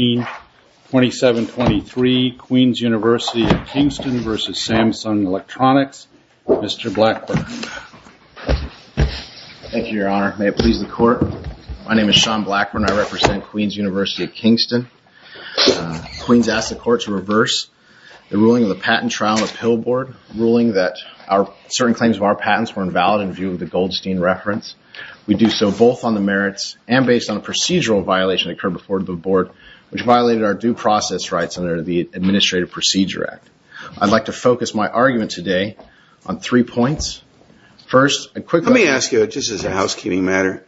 2723, Queen's University of Kingston v. Samsung Electronics, Mr. Blackburn. Thank you, Your Honor. May it please the Court. My name is Sean Blackburn. I represent Queen's University of Kingston. Queen's asked the Court to reverse the ruling of the patent trial on the pillboard, ruling that certain claims of our patents were invalid in view of the Goldstein reference. We do so both on the merits and based on a procedural violation that occurred before the Board, which violated our due process rights under the Administrative Procedure Act. I'd like to focus my argument today on three points. First, a quick one. Let me ask you, just as a housekeeping matter.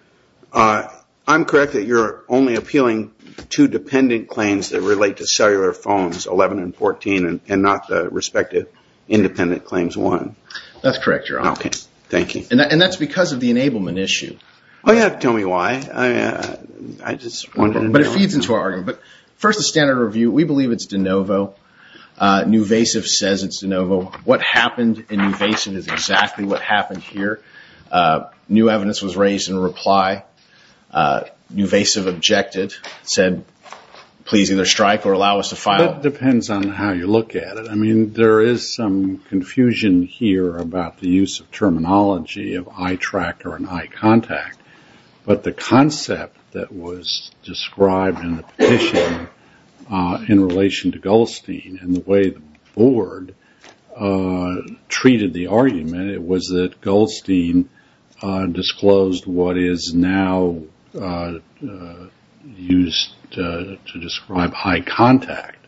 I'm correct that you're only appealing two dependent claims that relate to cellular phones, 11 and 14, and not the respective independent claims 1. That's correct, Your Honor. Okay. Thank you. And that's because of the enablement issue. Oh, yeah. Tell me why. I just wondered. But it feeds into our argument. First, the standard review. We believe it's de novo. Nuvasiv says it's de novo. What happened in Nuvasiv is exactly what happened here. New evidence was raised in reply. Nuvasiv objected, said, please either strike or allow us to file. That depends on how you look at it. I mean, there is some confusion here about the use of terminology of eye tracker and eye contact. But the concept that was described in the petition in relation to Goldstein and the way the Board treated the argument, it was that Goldstein disclosed what is now used to describe eye contact,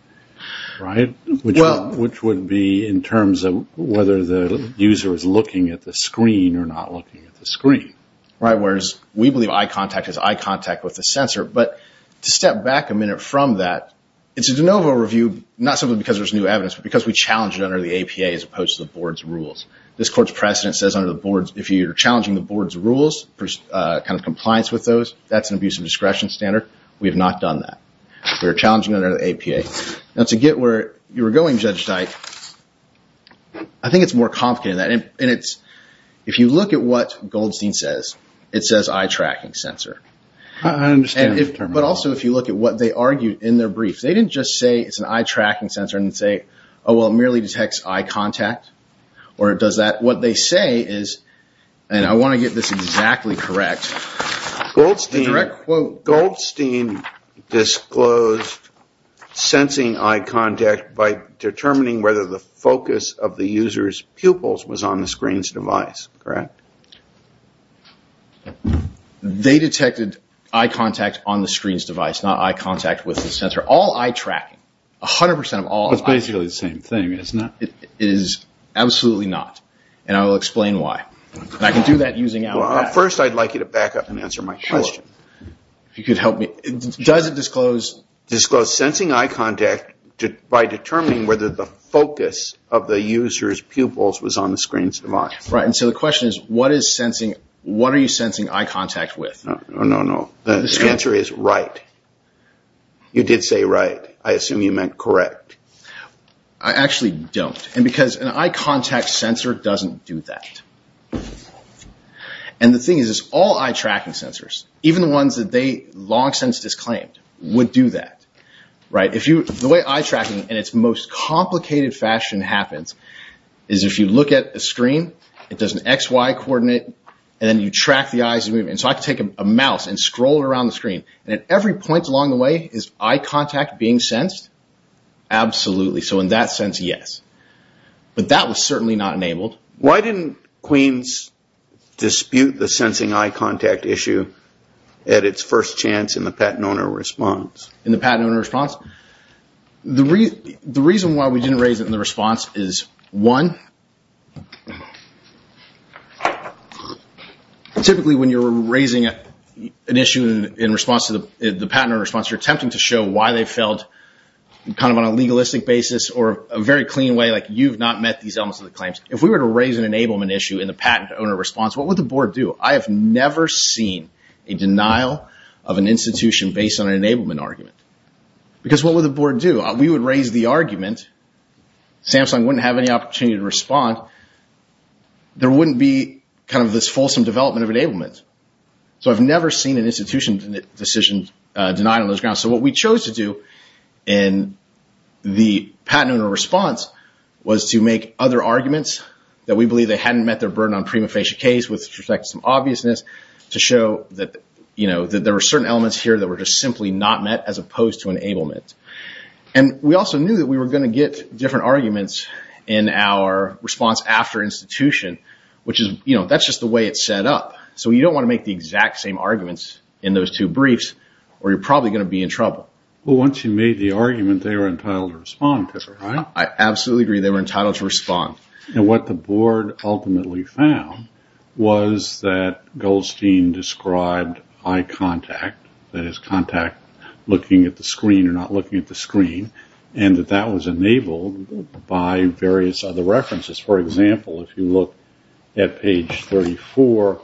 right, which would be in terms of whether the user is looking at the screen or not looking at the screen. Right, whereas we believe eye contact is eye contact with the sensor. But to step back a minute from that, it's a de novo review, not simply because there's new evidence, but because we challenged it under the APA as opposed to the Board's rules. This Court's precedent says under the Board's, if you're challenging the Board's rules, kind of compliance with those, that's an abuse of discretion standard. We have not done that. We are challenging it under the APA. Now, to get where you were going, Judge Dyke, I think it's more complicated than that. And it's, if you look at what Goldstein says, it says eye tracking sensor. I understand the terminology. But also if you look at what they argued in their brief, they didn't just say it's an eye tracking sensor and say, oh, well, it merely detects eye contact. What they say is, and I want to get this exactly correct. Goldstein disclosed sensing eye contact by determining whether the focus of the user's pupils was on the screen's device, correct? They detected eye contact on the screen's device, not eye contact with the sensor. All eye tracking, 100% of all eye tracking. So it's basically the same thing, isn't it? It is absolutely not. And I will explain why. I can do that using... Well, first I'd like you to back up and answer my question. Sure. If you could help me. Does it disclose... Disclose sensing eye contact by determining whether the focus of the user's pupils was on the screen's device. Right. And so the question is, what is sensing, what are you sensing eye contact with? No, no, no. The answer is right. You did say right. I assume you meant correct. I actually don't. And because an eye contact sensor doesn't do that. And the thing is, all eye tracking sensors, even the ones that they long since disclaimed, would do that. The way eye tracking in its most complicated fashion happens is if you look at a screen, it does an XY coordinate, and then you track the eye's movement. And so I can take a mouse and scroll it around the screen, and at every point along the way, is eye contact being sensed? Absolutely. So in that sense, yes. But that was certainly not enabled. Why didn't Queens dispute the sensing eye contact issue at its first chance in the patent owner response? In the patent owner response? Typically when you're raising an issue in response to the patent owner response, you're attempting to show why they failed kind of on a legalistic basis or a very clean way, like you've not met these elements of the claims. If we were to raise an enablement issue in the patent owner response, what would the board do? I have never seen a denial of an institution based on an enablement argument. Because what would the board do? If we would raise the argument, Samsung wouldn't have any opportunity to respond, there wouldn't be kind of this fulsome development of enablement. So I've never seen an institution decision denied on those grounds. So what we chose to do in the patent owner response was to make other arguments that we believe they hadn't met their burden on prima facie case with respect to some obviousness to show that there were certain elements here that were just simply not met as opposed to enablement. And we also knew that we were going to get different arguments in our response after institution, which is, you know, that's just the way it's set up. So you don't want to make the exact same arguments in those two briefs or you're probably going to be in trouble. Well, once you made the argument, they were entitled to respond to it, right? I absolutely agree, they were entitled to respond. And what the board ultimately found was that Goldstein described eye contact, that is contact looking at the screen or not looking at the screen, and that that was enabled by various other references. For example, if you look at page 34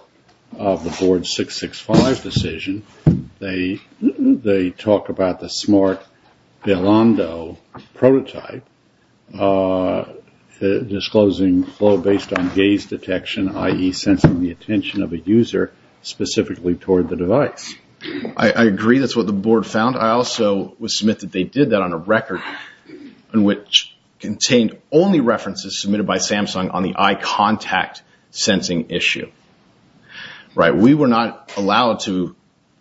of the board 665 decision, they talk about the smart Belando prototype disclosing flow based on gaze detection, i.e. sensing the attention of a user specifically toward the device. I agree, that's what the board found. I also would submit that they did that on a record which contained only references submitted by Samsung on the eye contact sensing issue. Right, we were not allowed to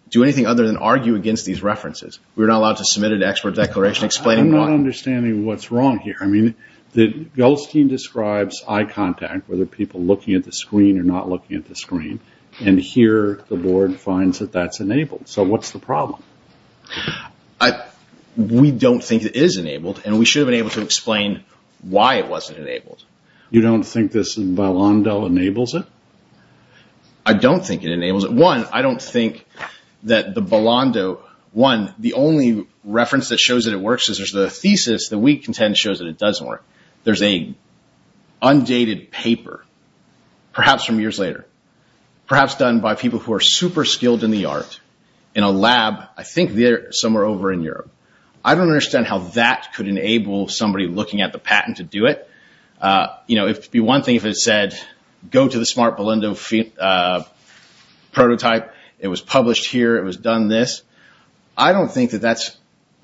do anything other than argue against these references. We were not allowed to submit an expert declaration explaining why. I'm not understanding what's wrong here. I mean, Goldstein describes eye contact, whether people looking at the screen or not looking at the screen, and here the board finds that that's enabled. So what's the problem? We don't think it is enabled and we should have been able to explain why it wasn't enabled. You don't think this Belando enables it? I don't think it enables it. One, I don't think that the Belando, one, the only reference that shows that it works is there's a thesis that we contend shows that it doesn't work. There's an undated paper, perhaps from years later, perhaps done by people who are super skilled in the art in a lab, I think somewhere over in Europe. I don't understand how that could enable somebody looking at the patent to do it. You know, it would be one thing if it said, go to the smart Belando prototype, it was published here, it was done this. I don't think that that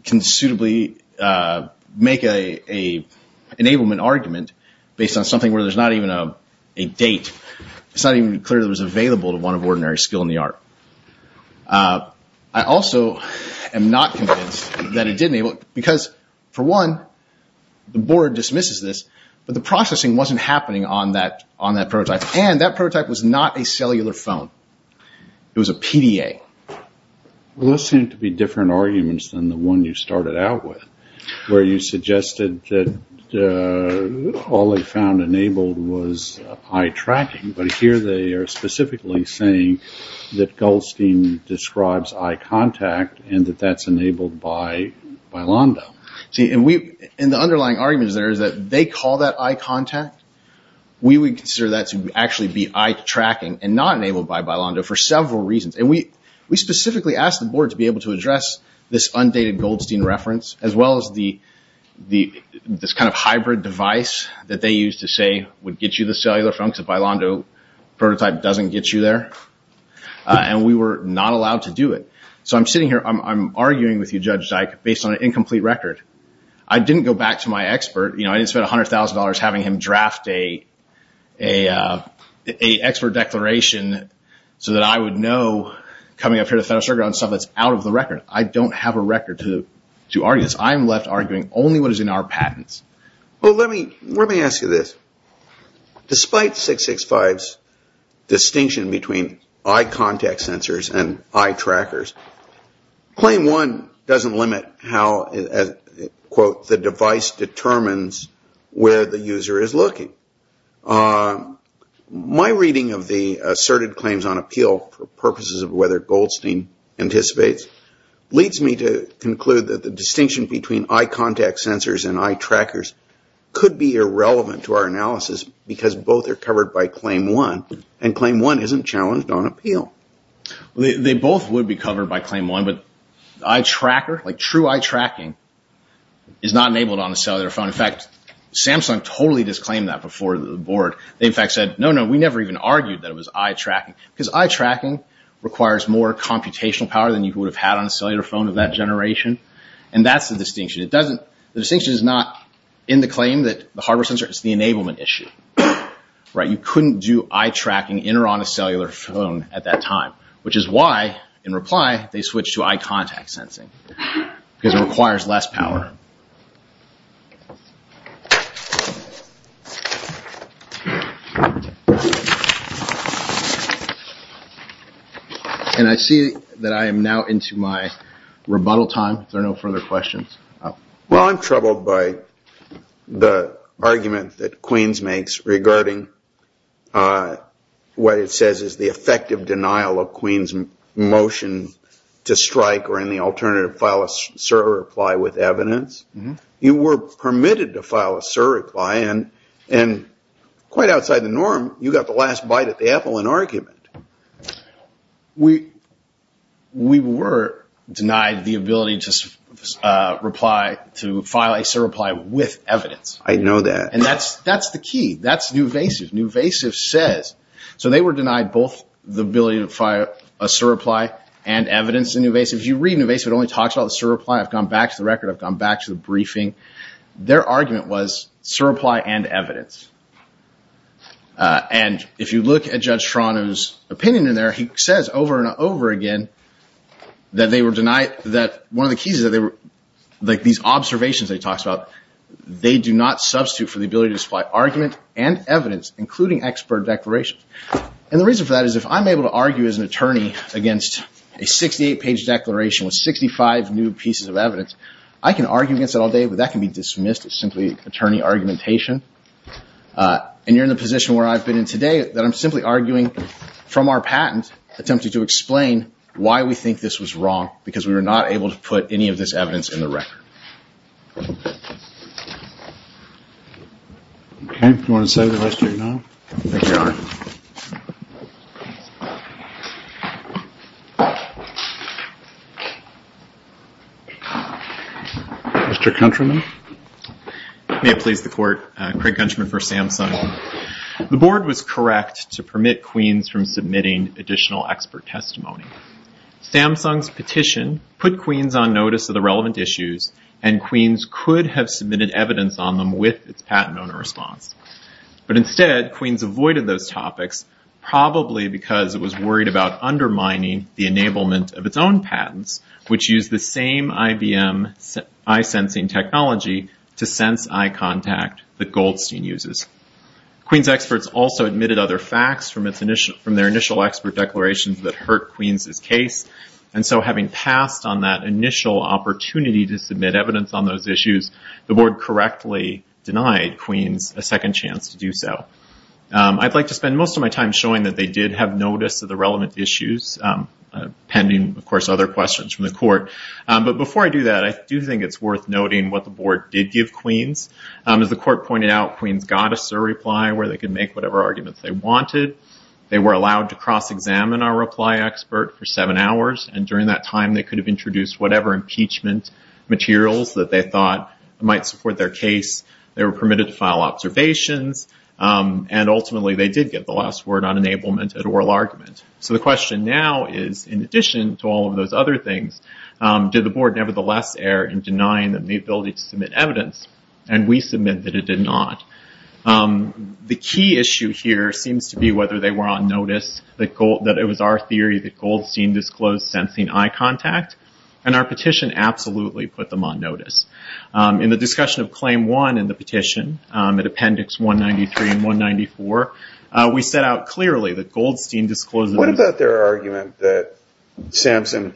can suitably make an enablement argument based on something where there's not even a date. It's not even clear that it was available to one of ordinary skill in the art. I also am not convinced that it did enable it because, for one, the board dismisses this, but the processing wasn't happening on that prototype. And that prototype was not a cellular phone. It was a PDA. Those seem to be different arguments than the one you started out with, where you suggested that all they found enabled was eye tracking. But here they are specifically saying that Goldstein describes eye contact and that that's enabled by Belando. The underlying argument there is that they call that eye contact. We would consider that to actually be eye tracking and not enabled by Belando for several reasons. And we specifically asked the board to be able to address this undated Goldstein reference, as well as this kind of hybrid device that they used to say would get you the cellular phone because the Belando prototype doesn't get you there. And we were not allowed to do it. So I'm sitting here, I'm arguing with you, Judge Dike, based on an incomplete record. I didn't go back to my expert. I didn't spend $100,000 having him draft an expert declaration so that I would know coming up here to Federal Circuit Court on stuff that's out of the record. I don't have a record to argue this. I'm left arguing only what is in our patents. Well, let me ask you this. Despite 665's distinction between eye contact sensors and eye trackers, Claim 1 doesn't limit how, quote, the device determines where the user is looking. My reading of the asserted claims on appeal for purposes of whether Goldstein anticipates leads me to conclude that the distinction between eye contact sensors and eye trackers could be irrelevant to our analysis because both are covered by Claim 1 and Claim 1 isn't challenged on appeal. They both would be covered by Claim 1, but eye tracker, like true eye tracking, is not enabled on a cellular phone. In fact, Samsung totally disclaimed that before the board. They, in fact, said, no, no, we never even argued that it was eye tracking because eye tracking requires more computational power than you would have had on a cellular phone of that generation. And that's the distinction. The distinction is not in the claim that the hardware sensor is the enablement issue. You couldn't do eye tracking in or on a cellular phone at that time, which is why, in reply, they switched to eye contact sensing because it requires less power. And I see that I am now into my rebuttal time. There are no further questions. Well, I'm troubled by the argument that Queens makes regarding what it says is the effective denial of Queens' motion to strike or any alternative file a certify with evidence. You were permitted to file a certify, and quite outside the norm, you got the last bite at the apple in argument. We were denied the ability to reply to file a certify with evidence. I know that. And that's the key. That's newvasive. Newvasive says. So they were denied both the ability to file a certify and evidence in newvasive. If you read newvasive, it only talks about the certify. I've gone back to the record. I've gone back to the briefing. Their argument was certify and evidence. And if you look at Judge Trano's opinion in there, he says over and over again that they were denied that one of the keys is that they were like these observations that he talks about. They do not substitute for the ability to supply argument and evidence, including expert declarations. And the reason for that is if I'm able to argue as an attorney against a 68-page declaration with 65 new pieces of evidence, I can argue against it all day. But that can be dismissed as simply attorney argumentation. And you're in the position where I've been in today that I'm simply arguing from our patent attempting to explain why we think this was wrong because we were not able to put any of this evidence in the record. Okay. Do you want to say the rest or no? Thank you, Your Honor. Mr. Countryman. May it please the court. Craig Countryman for Samsung. The board was correct to permit Queen's from submitting additional expert testimony. Samsung's petition put Queen's on notice of the relevant issues, and Queen's could have submitted evidence on them with its patent owner response. But instead, Queen's avoided those topics, probably because it was worried about undermining the enablement of its own patents, which use the same IBM eye-sensing technology to sense eye contact that Goldstein uses. Queen's experts also admitted other facts from their initial expert declarations that hurt Queen's' case. And so having passed on that initial opportunity to submit evidence on those issues, the board correctly denied Queen's a second chance to do so. I'd like to spend most of my time showing that they did have notice of the relevant issues, pending, of course, other questions from the court. But before I do that, I do think it's worth noting what the board did give Queen's. As the court pointed out, Queen's got a surreply where they could make whatever arguments they wanted. They were allowed to cross-examine our reply expert for seven hours. And during that time, they could have introduced whatever impeachment materials that they thought might support their case. They were permitted to file observations. And ultimately, they did get the last word on enablement at oral argument. So the question now is, in addition to all of those other things, did the board nevertheless err in denying them the ability to submit evidence? And we submit that it did not. The key issue here seems to be whether they were on notice that it was our theory that Goldstein disclosed sensing eye contact. And our petition absolutely put them on notice. In the discussion of Claim 1 in the petition, at Appendix 193 and 194, we set out clearly that Goldstein disclosed... So we absolutely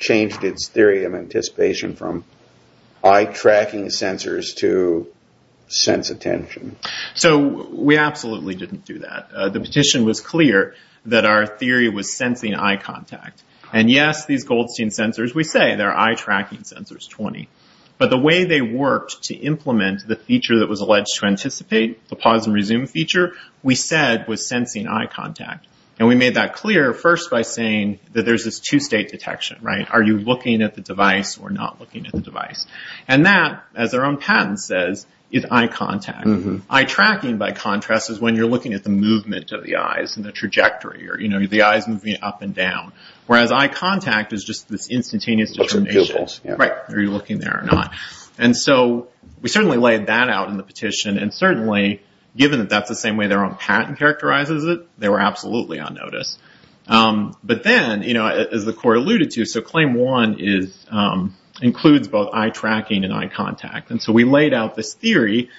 didn't do that. The petition was clear that our theory was sensing eye contact. And yes, these Goldstein sensors, we say they're eye-tracking sensors, 20. But the way they worked to implement the feature that was alleged to anticipate, the pause and resume feature, we said was sensing eye contact. And we made that clear first by saying that there's this two-state detection, right? Are you looking at the device or not looking at the device? And that, as their own patent says, is eye contact. Eye tracking, by contrast, is when you're looking at the movement of the eyes and the trajectory or the eyes moving up and down. Whereas eye contact is just this instantaneous determination. Are you looking there or not? And so we certainly laid that out in the petition. And certainly, given that that's the same way their own patent characterizes it, they were absolutely on notice. But then, as the court alluded to, so claim one includes both eye tracking and eye contact. And so we laid out this theory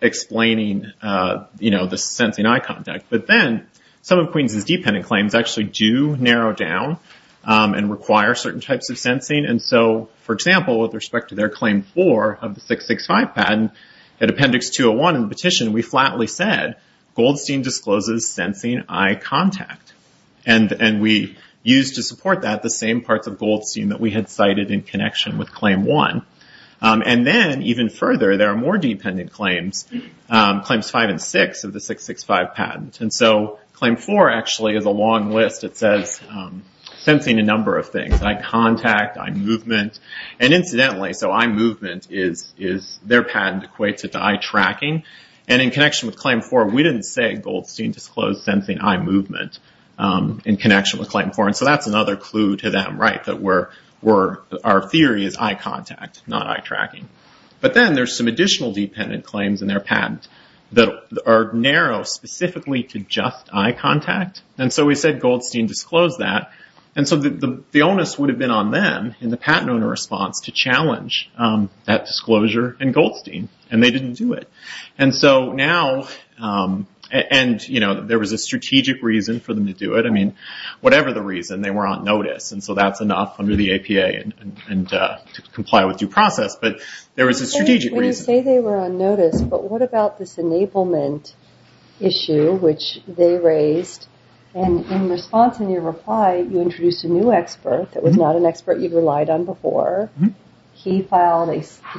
explaining the sensing eye contact. But then some of Queens's dependent claims actually do narrow down and require certain types of sensing. And so, for example, with respect to their claim four of the 665 patent, at appendix 201 in the petition, we flatly said, Goldstein discloses sensing eye contact. And we used to support that the same parts of Goldstein that we had cited in connection with claim one. And then, even further, there are more dependent claims, claims five and six of the 665 patent. And so claim four actually is a long list. It says sensing a number of things, eye contact, eye movement. And incidentally, so eye movement is their patent equates it to eye tracking. And in connection with claim four, we didn't say Goldstein disclosed sensing eye movement in connection with claim four. And so that's another clue to them, right, that our theory is eye contact, not eye tracking. But then there's some additional dependent claims in their patent that are narrow specifically to just eye contact. And so we said Goldstein disclosed that. And so the onus would have been on them, in the patent owner response, to challenge that disclosure in Goldstein. And they didn't do it. And so now, and, you know, there was a strategic reason for them to do it. I mean, whatever the reason, they were on notice. And so that's enough under the APA to comply with due process. But there was a strategic reason. When you say they were on notice, but what about this enablement issue which they raised? And in response to your reply, you introduced a new expert that was not an expert you relied on before. He filed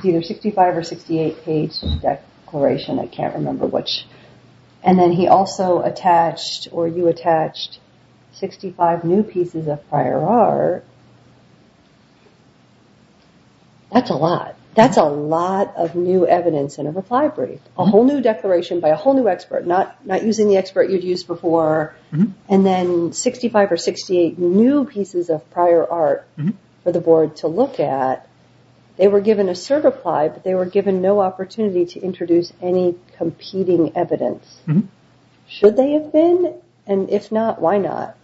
either a 65 or 68 page declaration. I can't remember which. And then he also attached or you attached 65 new pieces of prior art. That's a lot. That's a lot of new evidence in a reply brief. A whole new declaration by a whole new expert, not using the expert you'd used before. And then 65 or 68 new pieces of prior art for the board to look at. They were given a certify, but they were given no opportunity to introduce any competing evidence. Should they have been? And if not, why not?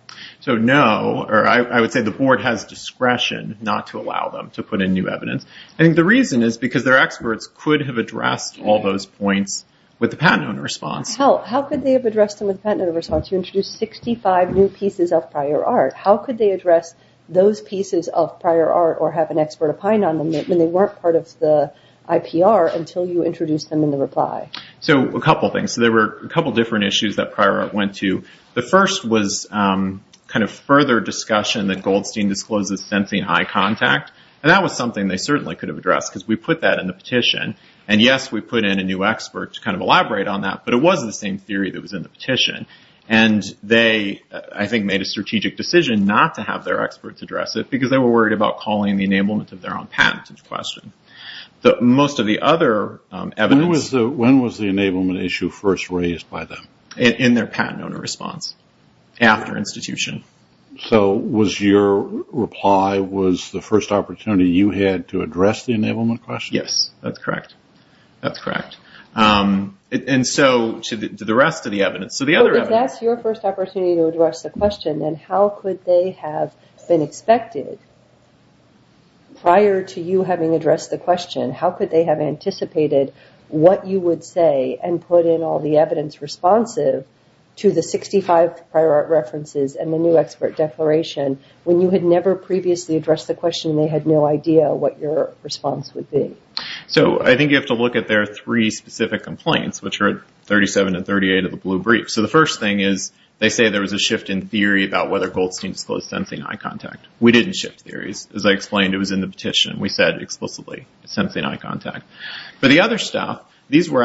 So no, or I would say the board has discretion not to allow them to put in new evidence. And the reason is because their experts could have addressed all those points with the patent owner response. How could they have addressed them with the patent owner response? You introduced 65 new pieces of prior art. How could they address those pieces of prior art or have an expert opined on them when they weren't part of the IPR until you introduced them in the reply? So a couple things. There were a couple different issues that prior art went to. The first was kind of further discussion that Goldstein discloses sensing eye contact. And that was something they certainly could have addressed because we put that in the petition. And yes, we put in a new expert to kind of elaborate on that. But it was the same theory that was in the petition. And they, I think, made a strategic decision not to have their experts address it because they were worried about calling the enablement of their own patent into question. Most of the other evidence... When was the enablement issue first raised by them? In their patent owner response after institution. So was your reply, was the first opportunity you had to address the enablement question? Yes, that's correct. That's correct. And so to the rest of the evidence. So the other evidence... So if that's your first opportunity to address the question, then how could they have been expected prior to you having addressed the question? How could they have anticipated what you would say and put in all the evidence responsive to the 65 prior art references and the new expert declaration when you had never previously addressed the question and they had no idea what your response would be? So I think you have to look at their three specific complaints, which are 37 and 38 of the blue brief. So the first thing is they say there was a shift in theory about whether Goldstein disclosed sensing eye contact. We didn't shift theories. As I explained, it was in the petition. We said explicitly sensing eye contact. But the other stuff, these were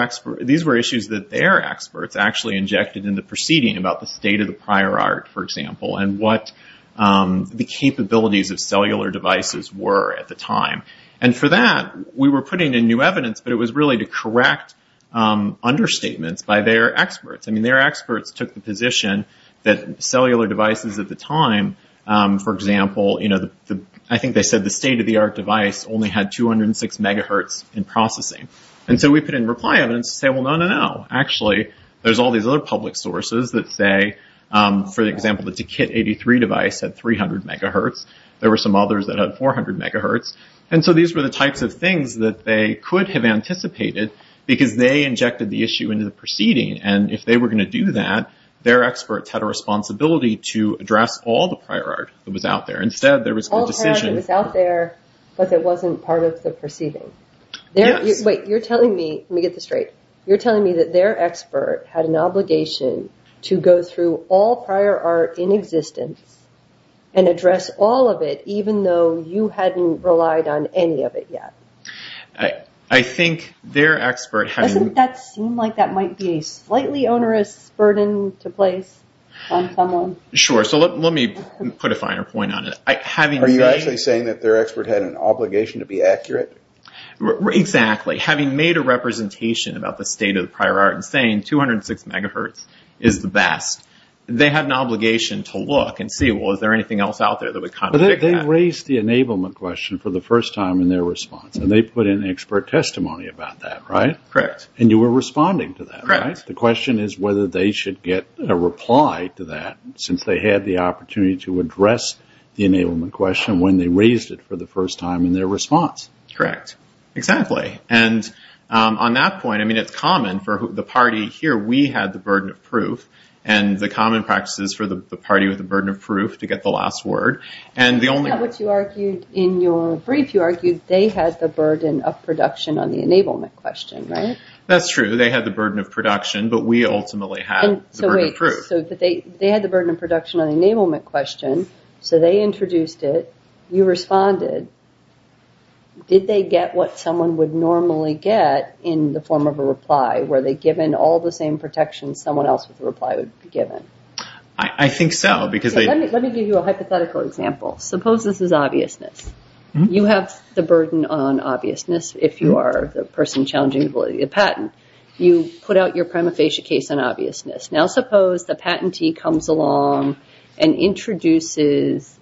issues that their experts actually injected in the proceeding about the state of the prior art, for example, and what the capabilities of cellular devices were at the time. And for that, we were putting in new evidence, but it was really to correct understatements by their experts. I mean, their experts took the position that cellular devices at the time, for example, I think they said the state-of-the-art device only had 206 megahertz in processing. And so we put in reply evidence to say, well, no, no, no. Actually, there's all these other public sources that say, for example, the TKIT83 device had 300 megahertz. There were some others that had 400 megahertz. And so these were the types of things that they could have anticipated because they injected the issue into the proceeding. And if they were going to do that, their experts had a responsibility to address all the prior art that was out there. Instead, there was a decision. All prior art that was out there, but that wasn't part of the proceeding. Yes. Wait, you're telling me, let me get this straight. You're telling me that their expert had an obligation to go through all prior art in existence and address all of it even though you hadn't relied on any of it yet? I think their expert had... Doesn't that seem like that might be a slightly onerous burden to place on someone? Sure. So let me put a finer point on it. Are you actually saying that their expert had an obligation to be accurate? Exactly. Having made a representation about the state of the prior art and saying 206 megahertz is the best, they had an obligation to look and see, well, is there anything else out there that would contradict that? They raised the enablement question for the first time in their response. And they put in expert testimony about that, right? Correct. And you were responding to that, right? Correct. The question is whether they should get a reply to that since they had the opportunity to address the enablement question when they raised it for the first time in their response. Correct. Exactly. And on that point, I mean, it's common for the party here. We had the burden of proof. And the common practice is for the party with the burden of proof to get the last word. In your brief, you argued they had the burden of production on the enablement question, right? That's true. They had the burden of production, but we ultimately had the burden of proof. So they had the burden of production on the enablement question, so they introduced it. You responded. Did they get what someone would normally get in the form of a reply? Were they given all the same protections someone else with a reply would be given? I think so. Let me give you a hypothetical example. Suppose this is obviousness. You have the burden on obviousness, if you are the person challenging the patent. You put out your prima facie case on obviousness. Now suppose the patentee comes along and introduces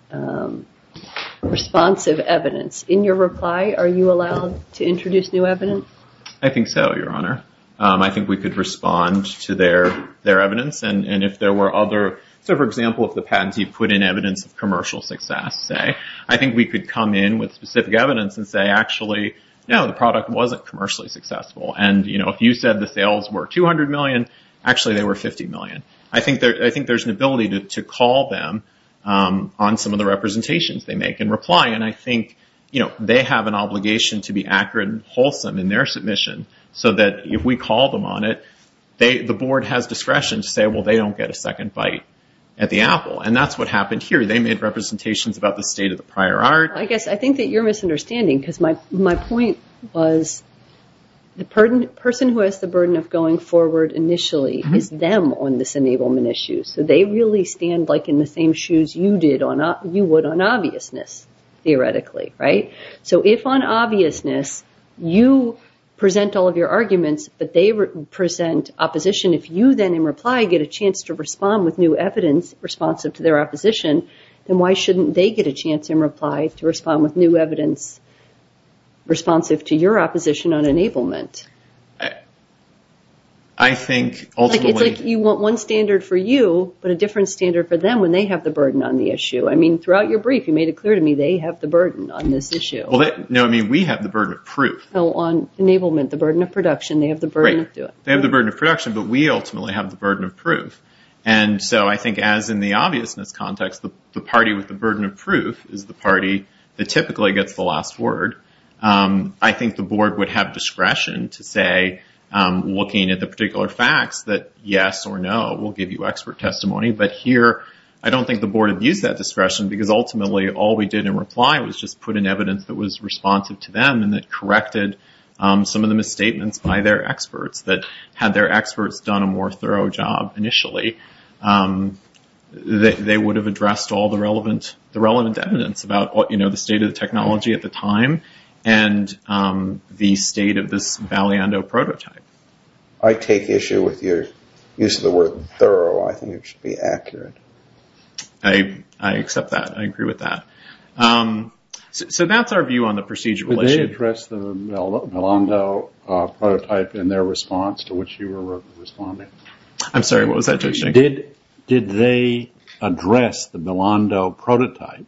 responsive evidence. In your reply, are you allowed to introduce new evidence? I think so, Your Honor. I think we could respond to their evidence. For example, if the patentee put in evidence of commercial success, I think we could come in with specific evidence and say, actually, no, the product wasn't commercially successful. If you said the sales were $200 million, actually they were $50 million. I think there's an ability to call them on some of the representations they make in reply, and I think they have an obligation to be accurate and wholesome in their submission, so that if we call them on it, the board has discretion to say, well, they don't get a second bite at the apple, and that's what happened here. They made representations about the state of the prior art. I think that you're misunderstanding, because my point was the person who has the burden of going forward initially is them on this enablement issue, so they really stand in the same shoes you would on obviousness, theoretically. So if on obviousness you present all of your arguments, but they present opposition, if you then in reply get a chance to respond with new evidence responsive to their opposition, then why shouldn't they get a chance in reply to respond with new evidence responsive to your opposition on enablement? It's like you want one standard for you, but a different standard for them when they have the burden on the issue. I mean, throughout your brief you made it clear to me they have the burden on this issue. No, I mean we have the burden of proof. No, on enablement, the burden of production. They have the burden of doing it. They have the burden of production, but we ultimately have the burden of proof, and so I think as in the obviousness context, the party with the burden of proof is the party that typically gets the last word. I think the board would have discretion to say, looking at the particular facts, that yes or no, we'll give you expert testimony, but here I don't think the board would use that discretion because ultimately all we did in reply was just put in evidence that was responsive to them and that corrected some of the misstatements by their experts that had their experts done a more thorough job initially, they would have addressed all the relevant evidence about the state of the technology at the time and the state of this Valiando prototype. I take issue with your use of the word thorough. I think it should be accurate. I accept that. I agree with that. So that's our view on the procedural issue. Did they address the Valiando prototype in their response to which you were responding? I'm sorry. What was that? Did they address the Valiando prototype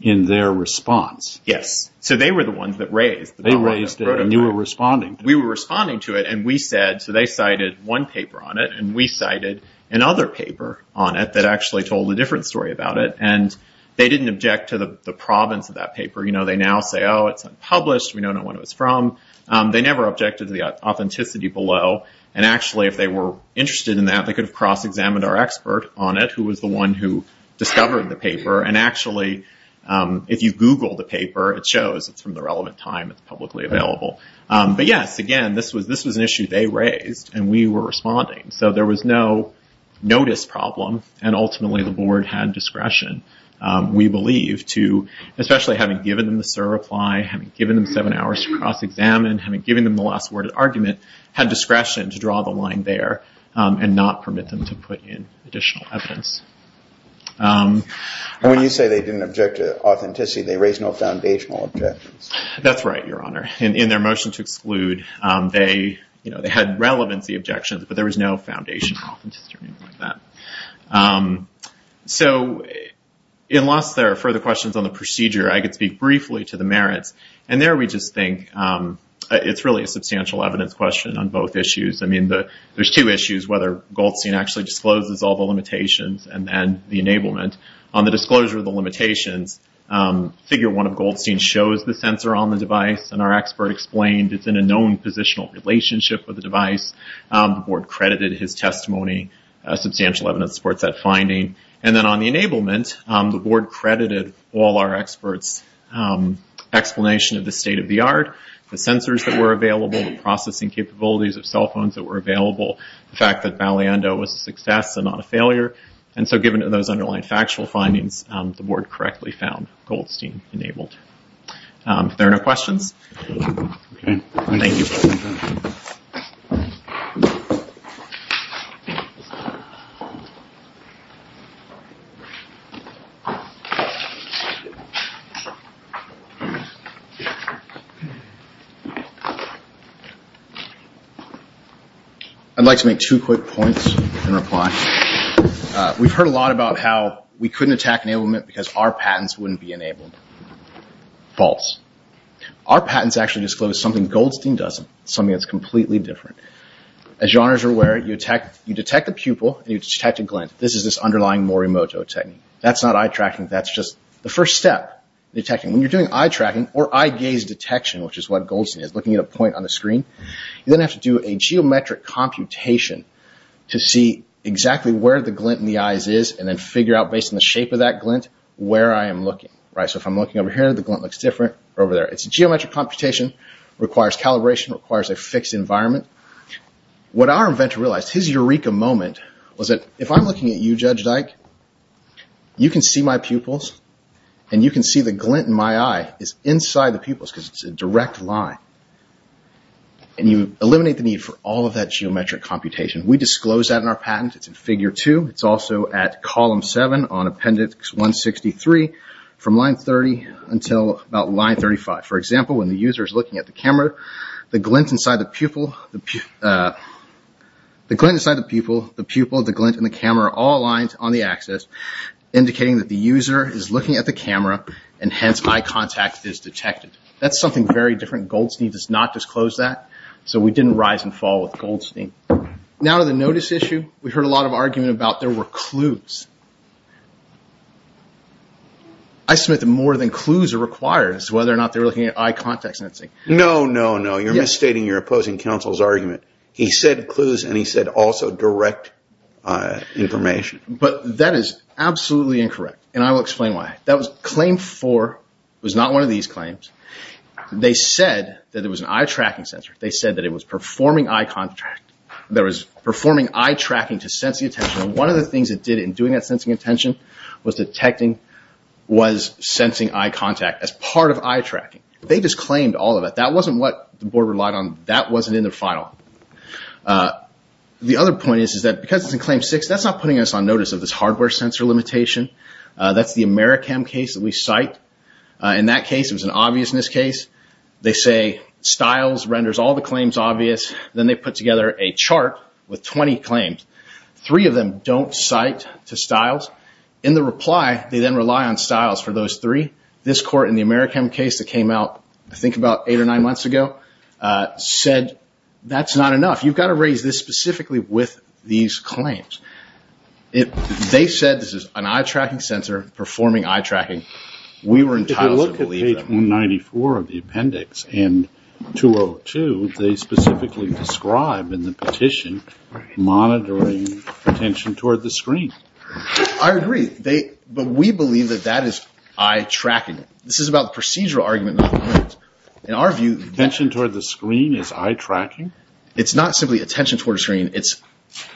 in their response? Yes. So they were the ones that raised it. They raised it and you were responding to it. We were responding to it and we said, and we cited another paper on it that actually told a different story about it and they didn't object to the province of that paper. They now say, oh, it's unpublished, we don't know when it was from. They never objected to the authenticity below, and actually if they were interested in that they could have cross-examined our expert on it who was the one who discovered the paper, and actually if you Google the paper it shows it's from the relevant time, it's publicly available. But, yes, again, this was an issue they raised and we were responding so there was no notice problem and ultimately the board had discretion, we believe, to especially having given them the SIR reply, having given them seven hours to cross-examine, having given them the last word of argument, had discretion to draw the line there and not permit them to put in additional evidence. When you say they didn't object to authenticity, they raised no foundational objections. That's right, Your Honor. In their motion to exclude, they had relevancy objections, but there was no foundational authenticity or anything like that. So, unless there are further questions on the procedure, I could speak briefly to the merits, and there we just think it's really a substantial evidence question on both issues. There's two issues, whether Goldstein actually discloses all the limitations and then the enablement. On the disclosure of the limitations, figure one of Goldstein shows the sensor on the device and our expert explained it's in a known positional relationship with the device. The board credited his testimony, substantial evidence supports that finding. And then on the enablement, the board credited all our experts' explanation of the state of the art, the sensors that were available, the processing capabilities of cell phones that were available, the fact that Baleando was a success and not a failure, and so given those underlying factual findings, the board correctly found Goldstein enabled. If there are no questions, thank you. I'd like to make two quick points in reply. We've heard a lot about how we couldn't attack enablement because our patents wouldn't be enabled. False. Our patents actually disclose something Goldstein doesn't, something that's completely different. As you are aware, you detect a pupil and you detect a glint. This is this underlying Morimoto technique. That's not eye tracking, that's just the first step. When you're doing eye tracking or eye gaze detection, which is what Goldstein is, looking at a point on the screen, you then have to do a geometric computation to see exactly where the glint in the eyes is and then figure out, based on the shape of that glint, where I am looking. So if I'm looking over here, the glint looks different, or over there. It's a geometric computation, requires calibration, requires a fixed environment. What our inventor realized, his eureka moment, was that if I'm looking at you, Judge Dyke, you can see my pupils, and you can see the glint in my eye is inside the pupils because it's a direct line. And you eliminate the need for all of that geometric computation. We disclose that in our patent. It's in Figure 2. It's also at Column 7 on Appendix 163, from Line 30 until about Line 35. For example, when the user is looking at the camera, the glint inside the pupil, the pupil, the glint in the camera, are all aligned on the axis, indicating that the user is looking at the camera, and hence eye contact is detected. That's something very different. Goldstein does not disclose that, so we didn't rise and fall with Goldstein. Now to the notice issue. We heard a lot of argument about there were clues. I submit that more than clues are required as to whether or not they're looking at eye contact sensing. No, no, no. You're misstating your opposing counsel's argument. He said clues, and he said also direct information. But that is absolutely incorrect, and I will explain why. Claim 4 was not one of these claims. They said that it was an eye-tracking sensor. They said that it was performing eye tracking to sense the attention. One of the things it did in doing that sensing attention was sensing eye contact as part of eye tracking. They just claimed all of it. That wasn't what the board relied on. That wasn't in their file. The other point is that because it's in Claim 6, that's not putting us on notice of this hardware sensor limitation. That's the Americam case that we cite. In that case, it was an obviousness case. They say Stiles renders all the claims obvious. Then they put together a chart with 20 claims. Three of them don't cite to Stiles. In the reply, they then rely on Stiles for those three. This court in the Americam case that came out, I think, about eight or nine months ago, said that's not enough. You've got to raise this specifically with these claims. They said this is an eye tracking sensor performing eye tracking. We were entitled to believe them. If you look at page 194 of the appendix and 202, they specifically describe in the petition monitoring attention toward the screen. I agree. But we believe that that is eye tracking. This is about the procedural argument, not the evidence. In our view, attention toward the screen is eye tracking? It's not simply attention toward a screen.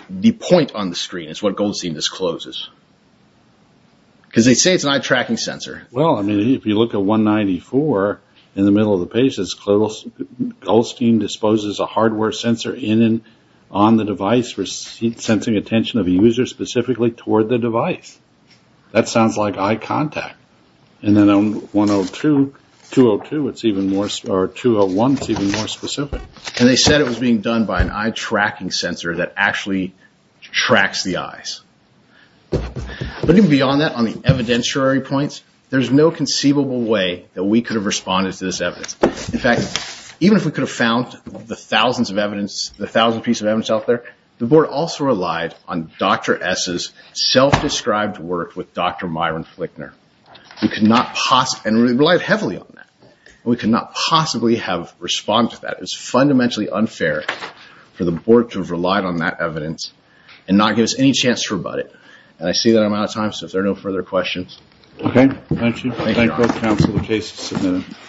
The point on the screen is what Goldstein discloses. They say it's an eye tracking sensor. If you look at 194, in the middle of the page, it says Goldstein disposes a hardware sensor in and on the device for sensing attention of a user specifically toward the device. That sounds like eye contact. Then on 202, it's even more specific. They said it was being done by an eye tracking sensor that actually tracks the eyes. Looking beyond that on the evidentiary points, there's no conceivable way that we could have responded to this evidence. In fact, even if we could have found the thousands of pieces of evidence out there, the board also relied on Dr. S's self-described work with Dr. Myron Flickner. We could not possibly have responded to that. It's fundamentally unfair for the board to have relied on that evidence and not give us any chance to rebut it. I see that I'm out of time, so if there are no further questions. Okay, thank you. Thank you, counsel, the case is submitted.